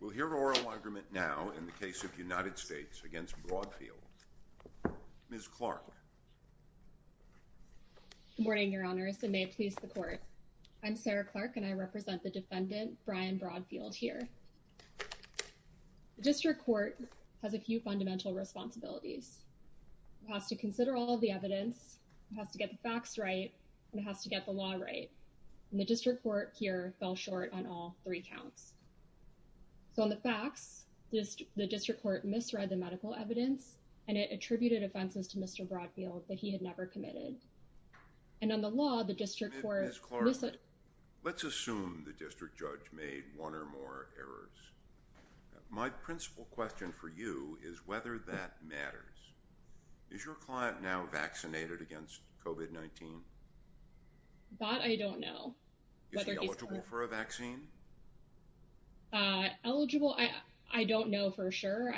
We'll hear oral argument now in the case of United States v. Broadfield. Ms. Clark. Good morning, Your Honors, and may it please the Court. I'm Sarah Clark and I represent the defendant, Brian Broadfield, here. The District Court has a few fundamental responsibilities. It has to consider all of the evidence, it has to get the facts right, and it has to get the law right, and the District Court here fell short on all three counts. So on the facts, the District Court misread the medical evidence and it attributed offenses to Mr. Broadfield that he had never committed. And on the law, the District Court... Ms. Clark, let's assume the District Judge made one or more errors. My principal question for you is whether that matters. Is your client now vaccinated against COVID-19? That I don't know. Is he eligible for a vaccine? Eligible? I don't know for sure.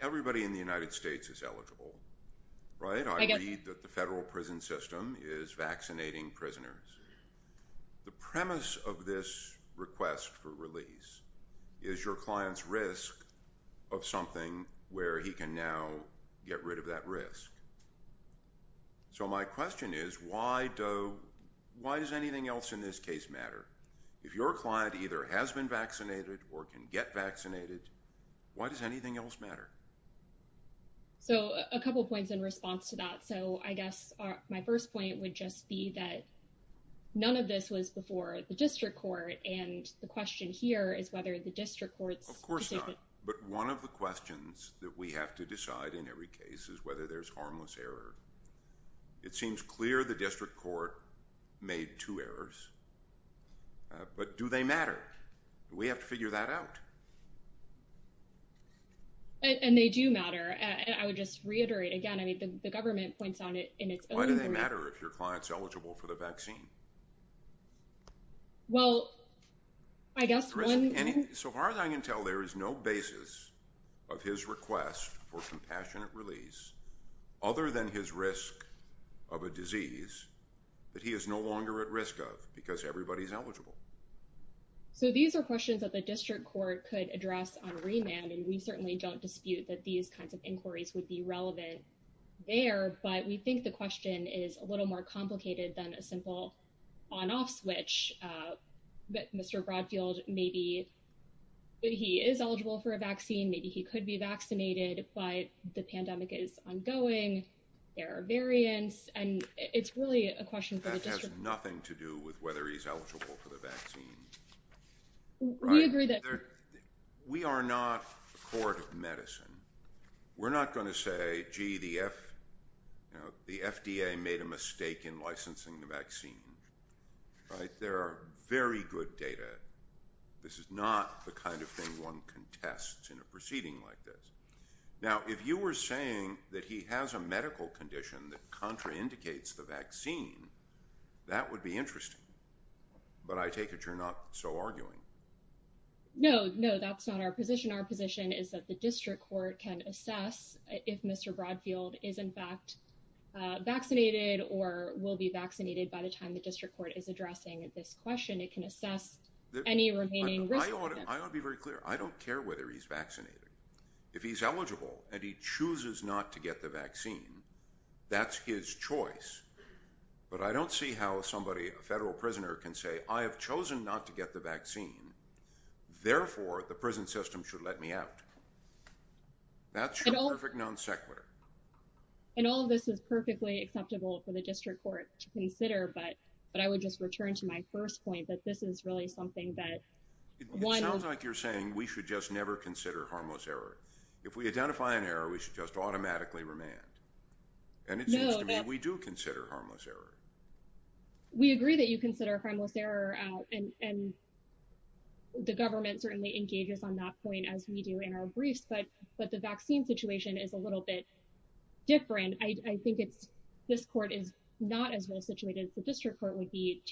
Everybody in the United States is eligible, right? I read that the federal prison system is vaccinating prisoners. The premise of this request for release is your client's risk of something where he can now get rid of that risk. So my question is, does anything else in this case matter? If your client either has been vaccinated or can get vaccinated, why does anything else matter? So a couple points in response to that. So I guess my first point would just be that none of this was before the District Court, and the question here is whether the District Court's... Of course not. But one of the questions that we have to decide in every case is whether there's harmless error. It seems clear the District Court made two errors, but do they matter? We have to figure that out. And they do matter. I would just reiterate again, I mean, the government points on it in its own way. Why do they matter if your client's eligible for the vaccine? Well, I guess one... So far as I can tell, there is no basis of his request for compassionate release other than his risk of a disease that he is no longer at risk of because everybody's eligible. So these are questions that the District Court could address on remand, and we certainly don't dispute that these kinds of inquiries would be relevant there, but we think the question is a little more complicated than a simple on-off switch. Mr. Broadfield, maybe he is vaccinated, but the pandemic is ongoing, there are variants, and it's really a question for the District Court. That has nothing to do with whether he's eligible for the vaccine. We agree that... We are not a court of medicine. We're not going to say, gee, the FDA made a mistake in licensing the vaccine. There are very good data. This is not the kind of thing one contests in a proceeding like this. Now, if you were saying that he has a medical condition that contraindicates the vaccine, that would be interesting, but I take it you're not so arguing. No, no, that's not our position. Our position is that the District Court can assess if Mr. Broadfield is in fact vaccinated or will be vaccinated by the time the District Court is addressing this question. It can assess any remaining... I want to be very clear. I don't care whether he's vaccinated. If he's eligible and he chooses not to get the vaccine, that's his choice, but I don't see how somebody, a federal prisoner, can say, I have chosen not to get the vaccine, therefore the prison system should let me out. That's a perfect non sequitur. And all of this is perfectly acceptable for the return to my first point that this is really something that... It sounds like you're saying we should just never consider harmless error. If we identify an error, we should just automatically remand. And it seems to me we do consider harmless error. We agree that you consider harmless error, and the government certainly engages on that point as we do in our briefs, but the vaccine situation is a little bit different. I think this court is not as well situated as the District Court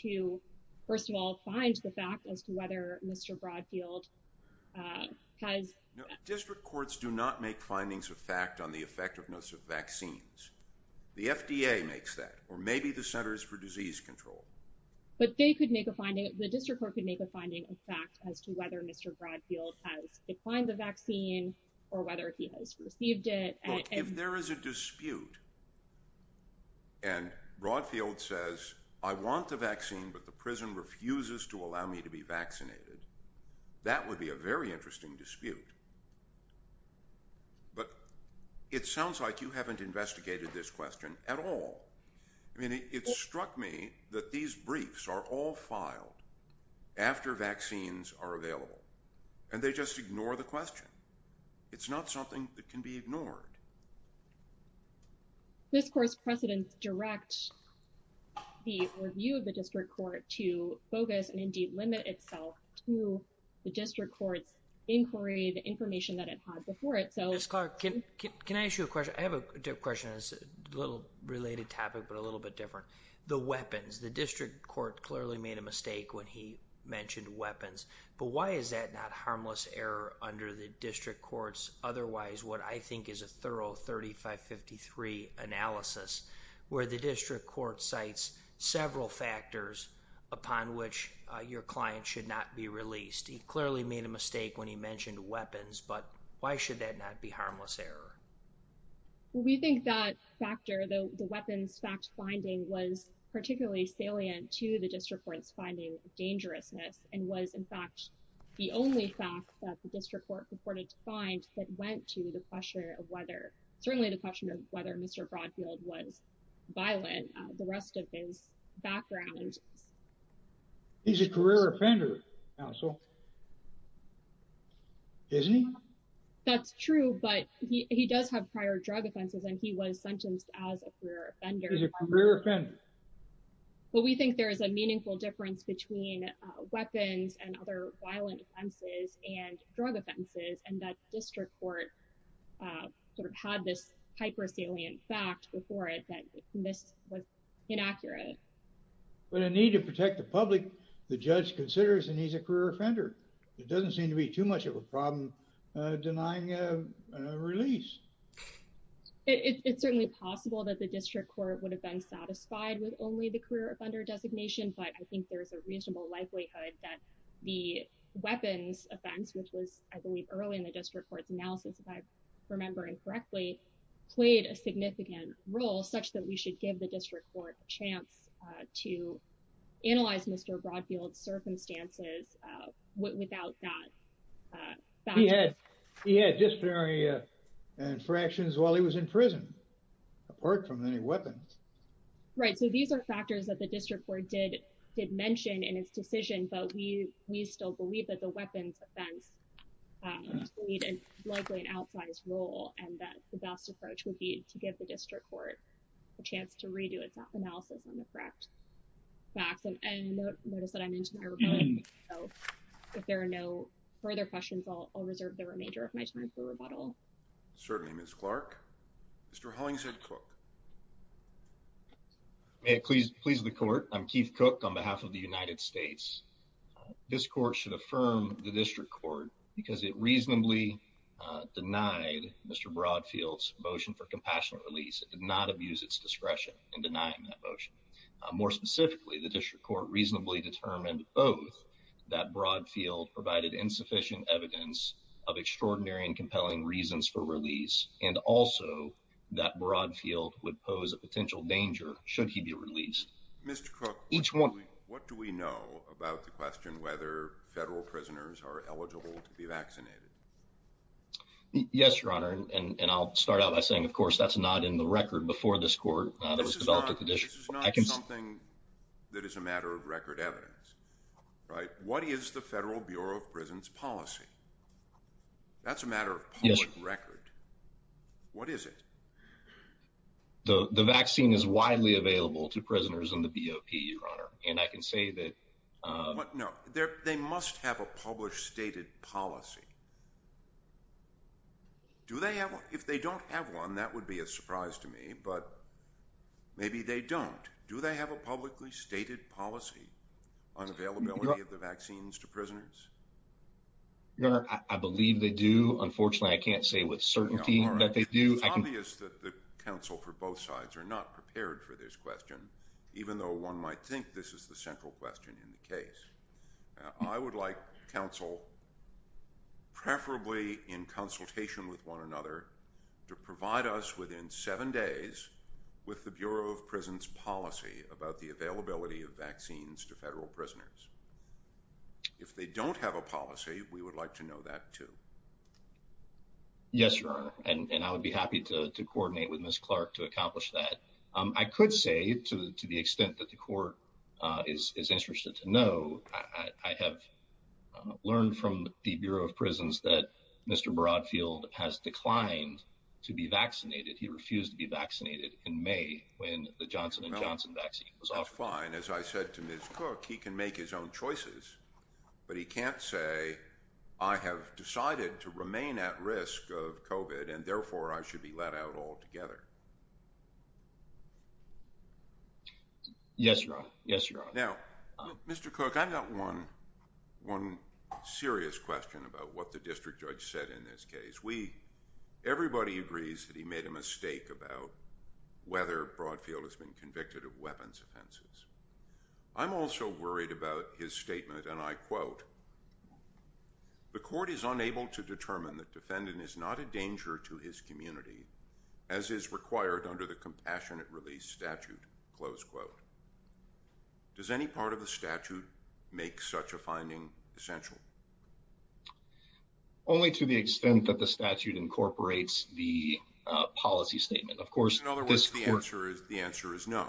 to, first of all, find the fact as to whether Mr. Broadfield has... District Courts do not make findings of fact on the effectiveness of vaccines. The FDA makes that, or maybe the Centers for Disease Control. But they could make a finding, the District Court could make a finding of fact as to whether Mr. Broadfield has declined the vaccine or whether he has received it. Look, if there is a but the prison refuses to allow me to be vaccinated, that would be a very interesting dispute. But it sounds like you haven't investigated this question at all. I mean, it struck me that these briefs are all filed after vaccines are available, and they just ignore the question. It's not something that can be ignored. This court's precedents direct the review of the District Court to focus and indeed limit itself to the District Court's inquiry, the information that it has before it. Ms. Clark, can I ask you a question? I have a question that's a little related topic but a little bit different. The weapons. The District Court clearly made a mistake when he mentioned weapons, but why is that not harmless error under the District Court's otherwise what I think is a thorough 3553 analysis where the District Court cites several factors upon which your client should not be released? He clearly made a mistake when he mentioned weapons, but why should that not be harmless error? We think that factor, the weapons fact finding, was particularly salient to the District Court's finding of dangerousness and was in fact the only fact that the District Court purported to find that went to the question of whether, certainly the question of whether Mr. Broadfield was violent, the rest of his background. He's a career offender, counsel. Isn't he? That's true, but he does have prior drug offenses, and he was sentenced as a career offender. He's a career offender. But we think there is a meaningful difference between weapons and other violent offenses and drug offenses and that District Court sort of had this hyper salient fact before it that this was inaccurate. But a need to protect the public, the judge considers and he's a career offender. It doesn't seem to be too much of a problem denying a release. It's certainly possible that the District Court would have been in favor of the release of Mr. Broadfield, but I think there's a reasonable likelihood that the weapons offense, which was, I believe, early in the District Court's analysis, if I remember incorrectly, played a significant role such that we should give the District Court a chance to analyze Mr. Broadfield's circumstances without that fact. He had disciplinary infractions while he was in prison, apart from any weapons. Right. So, these are factors that the District Court did mention in its decision, but we still believe that the weapons offense played a likely an outsized role and that the best approach would be to give the District Court a chance to redo its analysis on the correct facts. And notice that I'm into my rebuttal, so if there are no further questions, I'll reserve the remainder of my time for rebuttal. Certainly, Ms. Clark. Mr. Hollingshead Cook. May it please the Court. I'm Keith Cook on behalf of the United States. This Court should affirm the District Court because it reasonably denied Mr. Broadfield's motion for compassionate release. It did not abuse its discretion in denying that motion. More specifically, the District Court reasonably determined both that Broadfield provided insufficient evidence of extraordinary and compelling reasons for release and also that Broadfield would pose a potential danger should he be released. Mr. Cook, what do we know about the question whether federal prisoners are eligible to be vaccinated? Yes, Your Honor, and I'll start out by saying, of course, that's not in the record before this Court that was developed at the District Court. This is not something that is a matter of record evidence, right? What is the matter of public record? What is it? The vaccine is widely available to prisoners in the BOP, Your Honor, and I can say that... No, they must have a published stated policy. If they don't have one, that would be a surprise to me, but maybe they don't. Do they have a publicly stated policy on availability of the vaccines to prisoners? Your Honor, I believe they do. Unfortunately, I can't say with certainty that they do. It's obvious that the counsel for both sides are not prepared for this question, even though one might think this is the central question in the case. I would like counsel, preferably in consultation with one another, to provide us within seven days with the Bureau of Prison's policy about the availability of vaccines to federal prisoners. If they don't have a policy, we would like to know that, too. Yes, Your Honor, and I would be happy to coordinate with Ms. Clark to accomplish that. I could say, to the extent that the Court is interested to know, I have learned from the Bureau of Prisons that Mr. Broadfield has declined to be vaccinated. He refused to be vaccinated in May when the Johnson & Johnson vaccine was offered. That's fine. As I said to Ms. Cook, he can make his own choices, but he can't say, I have decided to remain at risk of COVID, and therefore, I should be let out altogether. Yes, Your Honor. Yes, Your Honor. Now, Mr. Cook, I've got one serious question about what the district judge said in this case. Everybody agrees that he made a mistake about whether Broadfield has been convicted of weapons offenses. I'm also worried about his statement, and I quote, The Court is unable to determine that defendant is not a danger to his community, as is required under the Compassionate Release statute, close quote. Does any part of the statute make such a finding essential? Only to the extent that the statute incorporates the policy statement. Of course. The answer is no.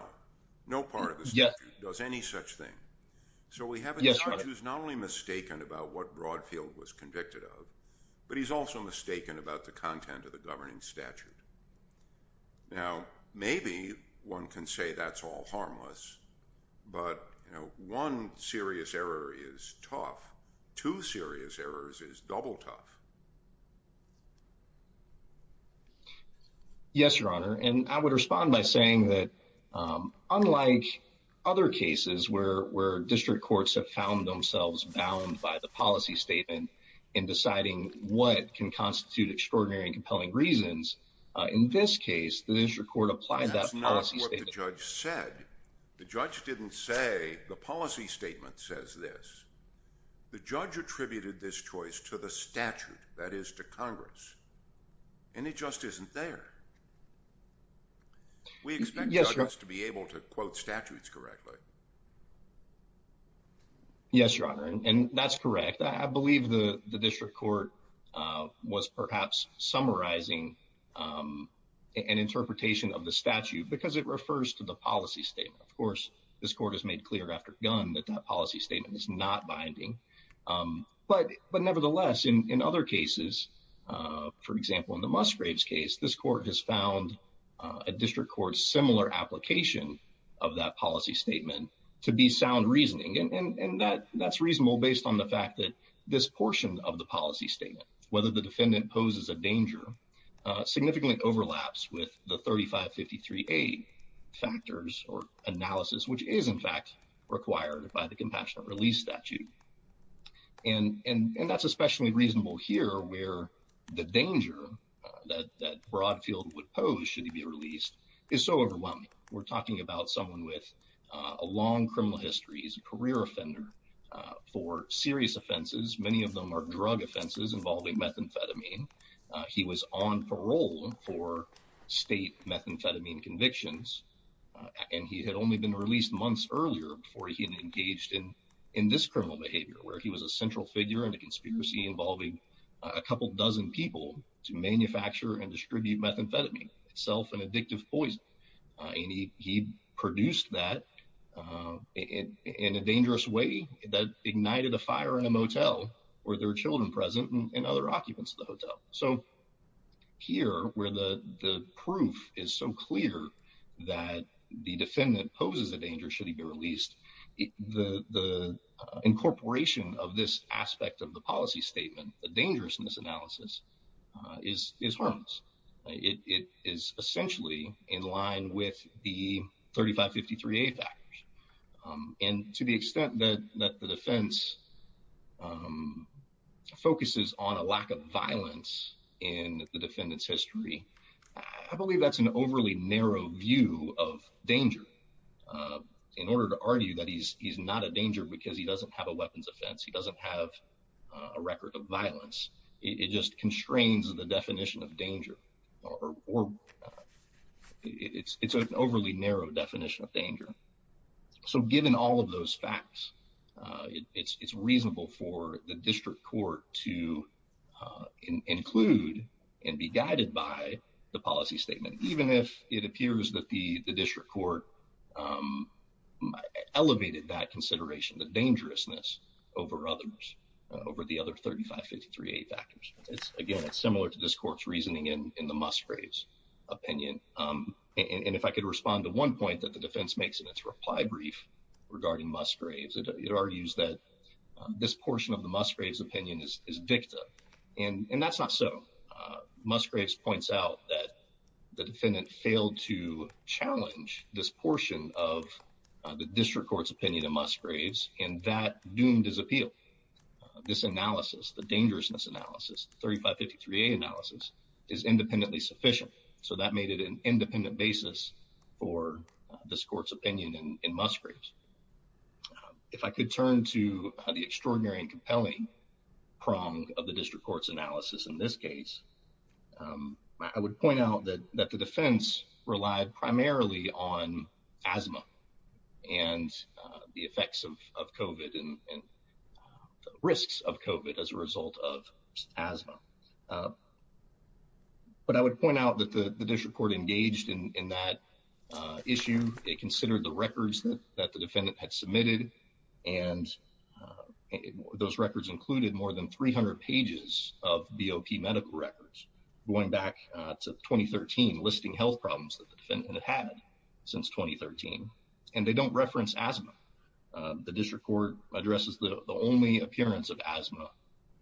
No part of the statute does any such thing. So we have a judge who's not only mistaken about what Broadfield was convicted of, but he's also mistaken about the content of the governing statute. Now, maybe one can say that's all harmless, but, you know, one serious error is tough. Two serious errors is double tough. Yes, Your Honor, and I would respond by saying that, unlike other cases where district courts have found themselves bound by the policy statement in deciding what can constitute extraordinary and compelling reasons, in this case, the district court applied that policy statement. That's not what the judge said. The judge didn't say, the policy statement says this. The judge attributed this choice to the statute that is to Congress, and it just isn't there. We expect judges to be able to quote statutes correctly. Yes, Your Honor, and that's correct. I believe the district court was perhaps summarizing an interpretation of the statute because it refers to the policy statement. Of course, this court has made clear after gun that that policy statement is not binding, but nevertheless, in other cases, for example, in the Musgraves case, this court has found a district court's similar application of that policy statement to be sound reasoning, and that's reasonable based on the fact that this portion of the policy statement, whether the defendant poses a danger, significantly overlaps with the 3553A factors or analysis, which is, in fact, required by the compassionate release statute, and that's especially reasonable here where the danger that Broadfield would pose should he be released is so overwhelming. We're talking about someone with a long criminal history. He's a career offender for serious offenses. Many of them are drug offenses involving methamphetamine. He was on parole for state methamphetamine convictions, and he had only been released months earlier before he had engaged in this criminal behavior where he was a central figure in a conspiracy involving a couple dozen people to manufacture and distribute methamphetamine, itself an addictive poison, and he produced that in a dangerous way that ignited a fire in a motel where there were children present and other occupants of the hotel. So here where the proof is so clear that the defendant poses a danger should he be released, the incorporation of this aspect of the policy statement, the dangerousness analysis, is harmless. It is essentially in line with the 3553A factors, and to the extent that the defense focuses on a lack of violence in the overly narrow view of danger, in order to argue that he's not a danger because he doesn't have a weapons offense, he doesn't have a record of violence, it just constrains the definition of danger. It's an overly narrow definition of danger. So given all of those facts, it's reasonable for the district court to include and be guided by the policy statement, even if it appears that the district court elevated that consideration, the dangerousness, over the other 3553A factors. Again, it's similar to this court's reasoning in the Musgraves' opinion, and if I could respond to one point that the defense makes in its reply brief regarding Musgraves, it argues that this portion of the Musgraves' opinion is victim, and that's not so. Musgraves points out that the defendant failed to challenge this portion of the district court's opinion in Musgraves, and that doomed his appeal. This analysis, the dangerousness analysis, the 3553A analysis, is independently sufficient. So that made it an independent basis for this court's opinion in Musgraves. If I could turn to the extraordinary and compelling prong of the district court's analysis in this case, I would point out that the defense relied primarily on asthma and the effects of COVID and risks of COVID as a result of asthma. But I would point out that the district court engaged in that issue. They considered the records that the defendant had submitted, and those records included more than 300 pages of BOP medical records going back to 2013, listing health problems that the defendant had had since 2013, and they don't reference asthma. The district court addresses the only appearance of asthma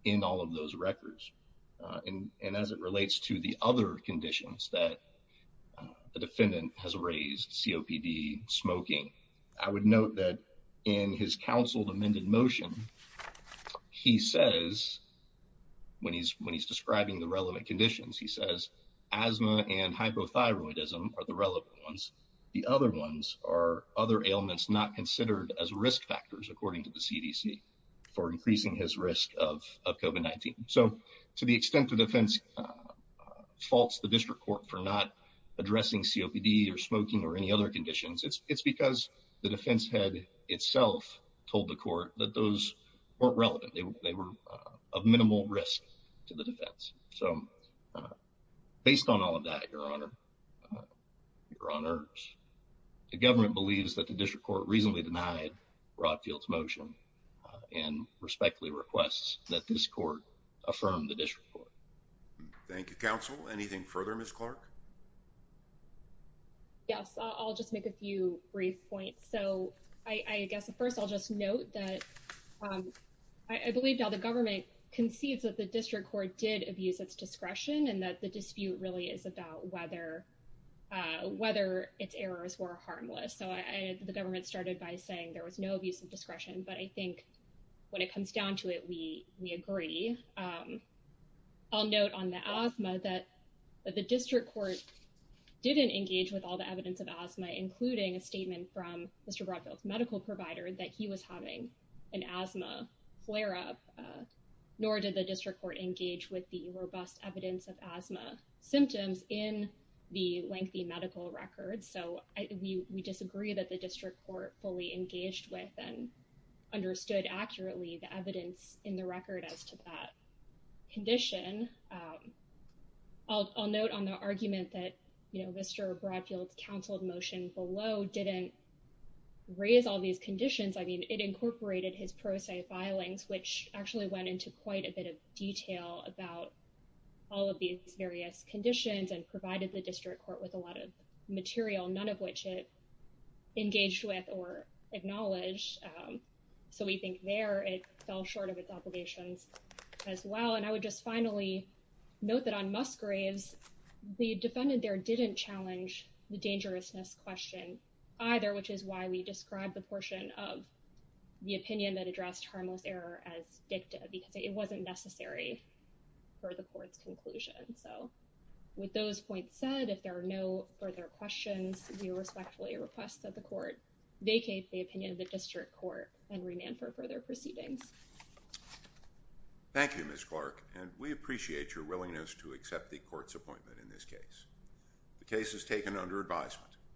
in all of those records, and as it relates to the other conditions that the defendant has raised, COPD, smoking, I would note that in his counseled amended motion, he says, when he's describing the relevant conditions, he says asthma and hypothyroidism are the relevant ones. The other ones are other ailments not considered as risk factors, according to the CDC, for increasing his risk of COVID-19. So to the extent the defense faults the district court for not addressing COPD or smoking or any other conditions, it's because the defense head itself told the court that those weren't relevant. They were of minimal risk to the defense. So, based on all of that, Your Honor, the government believes that the district court reasonably denied Rod Field's motion and respectfully requests that this court affirm the district court. Thank you, counsel. Anything further, Ms. Clark? Yes, I'll just make a few brief points. So, I guess first I'll just note that I believe now the government concedes that the district court did abuse its discretion and that the dispute really is about whether its errors were harmless. So, the government started by saying there was no abuse of discretion. I'll note on the asthma that the district court didn't engage with all the evidence of asthma, including a statement from Mr. Rod Field's medical provider that he was having an asthma flare-up, nor did the district court engage with the robust evidence of asthma symptoms in the lengthy medical records. So, we disagree that the district court fully engaged with and condition. I'll note on the argument that Mr. Rod Field's counseled motion below didn't raise all these conditions. I mean, it incorporated his pro se filings, which actually went into quite a bit of detail about all of these various conditions and provided the district court with a lot of material, none of which it engaged with or acknowledged. So, we think there it fell short of its obligations as well. And I would just finally note that on Musgraves, the defendant there didn't challenge the dangerousness question either, which is why we described the portion of the opinion that addressed harmless error as dicta, because it wasn't necessary for the court's conclusion. So, with those points said, if there are no further questions, we respectfully request that the court vacate the opinion of the district court and remand for further proceedings. Thank you, Ms. Clark, and we appreciate your willingness to accept the court's appointment in this case. The case is taken under advisement.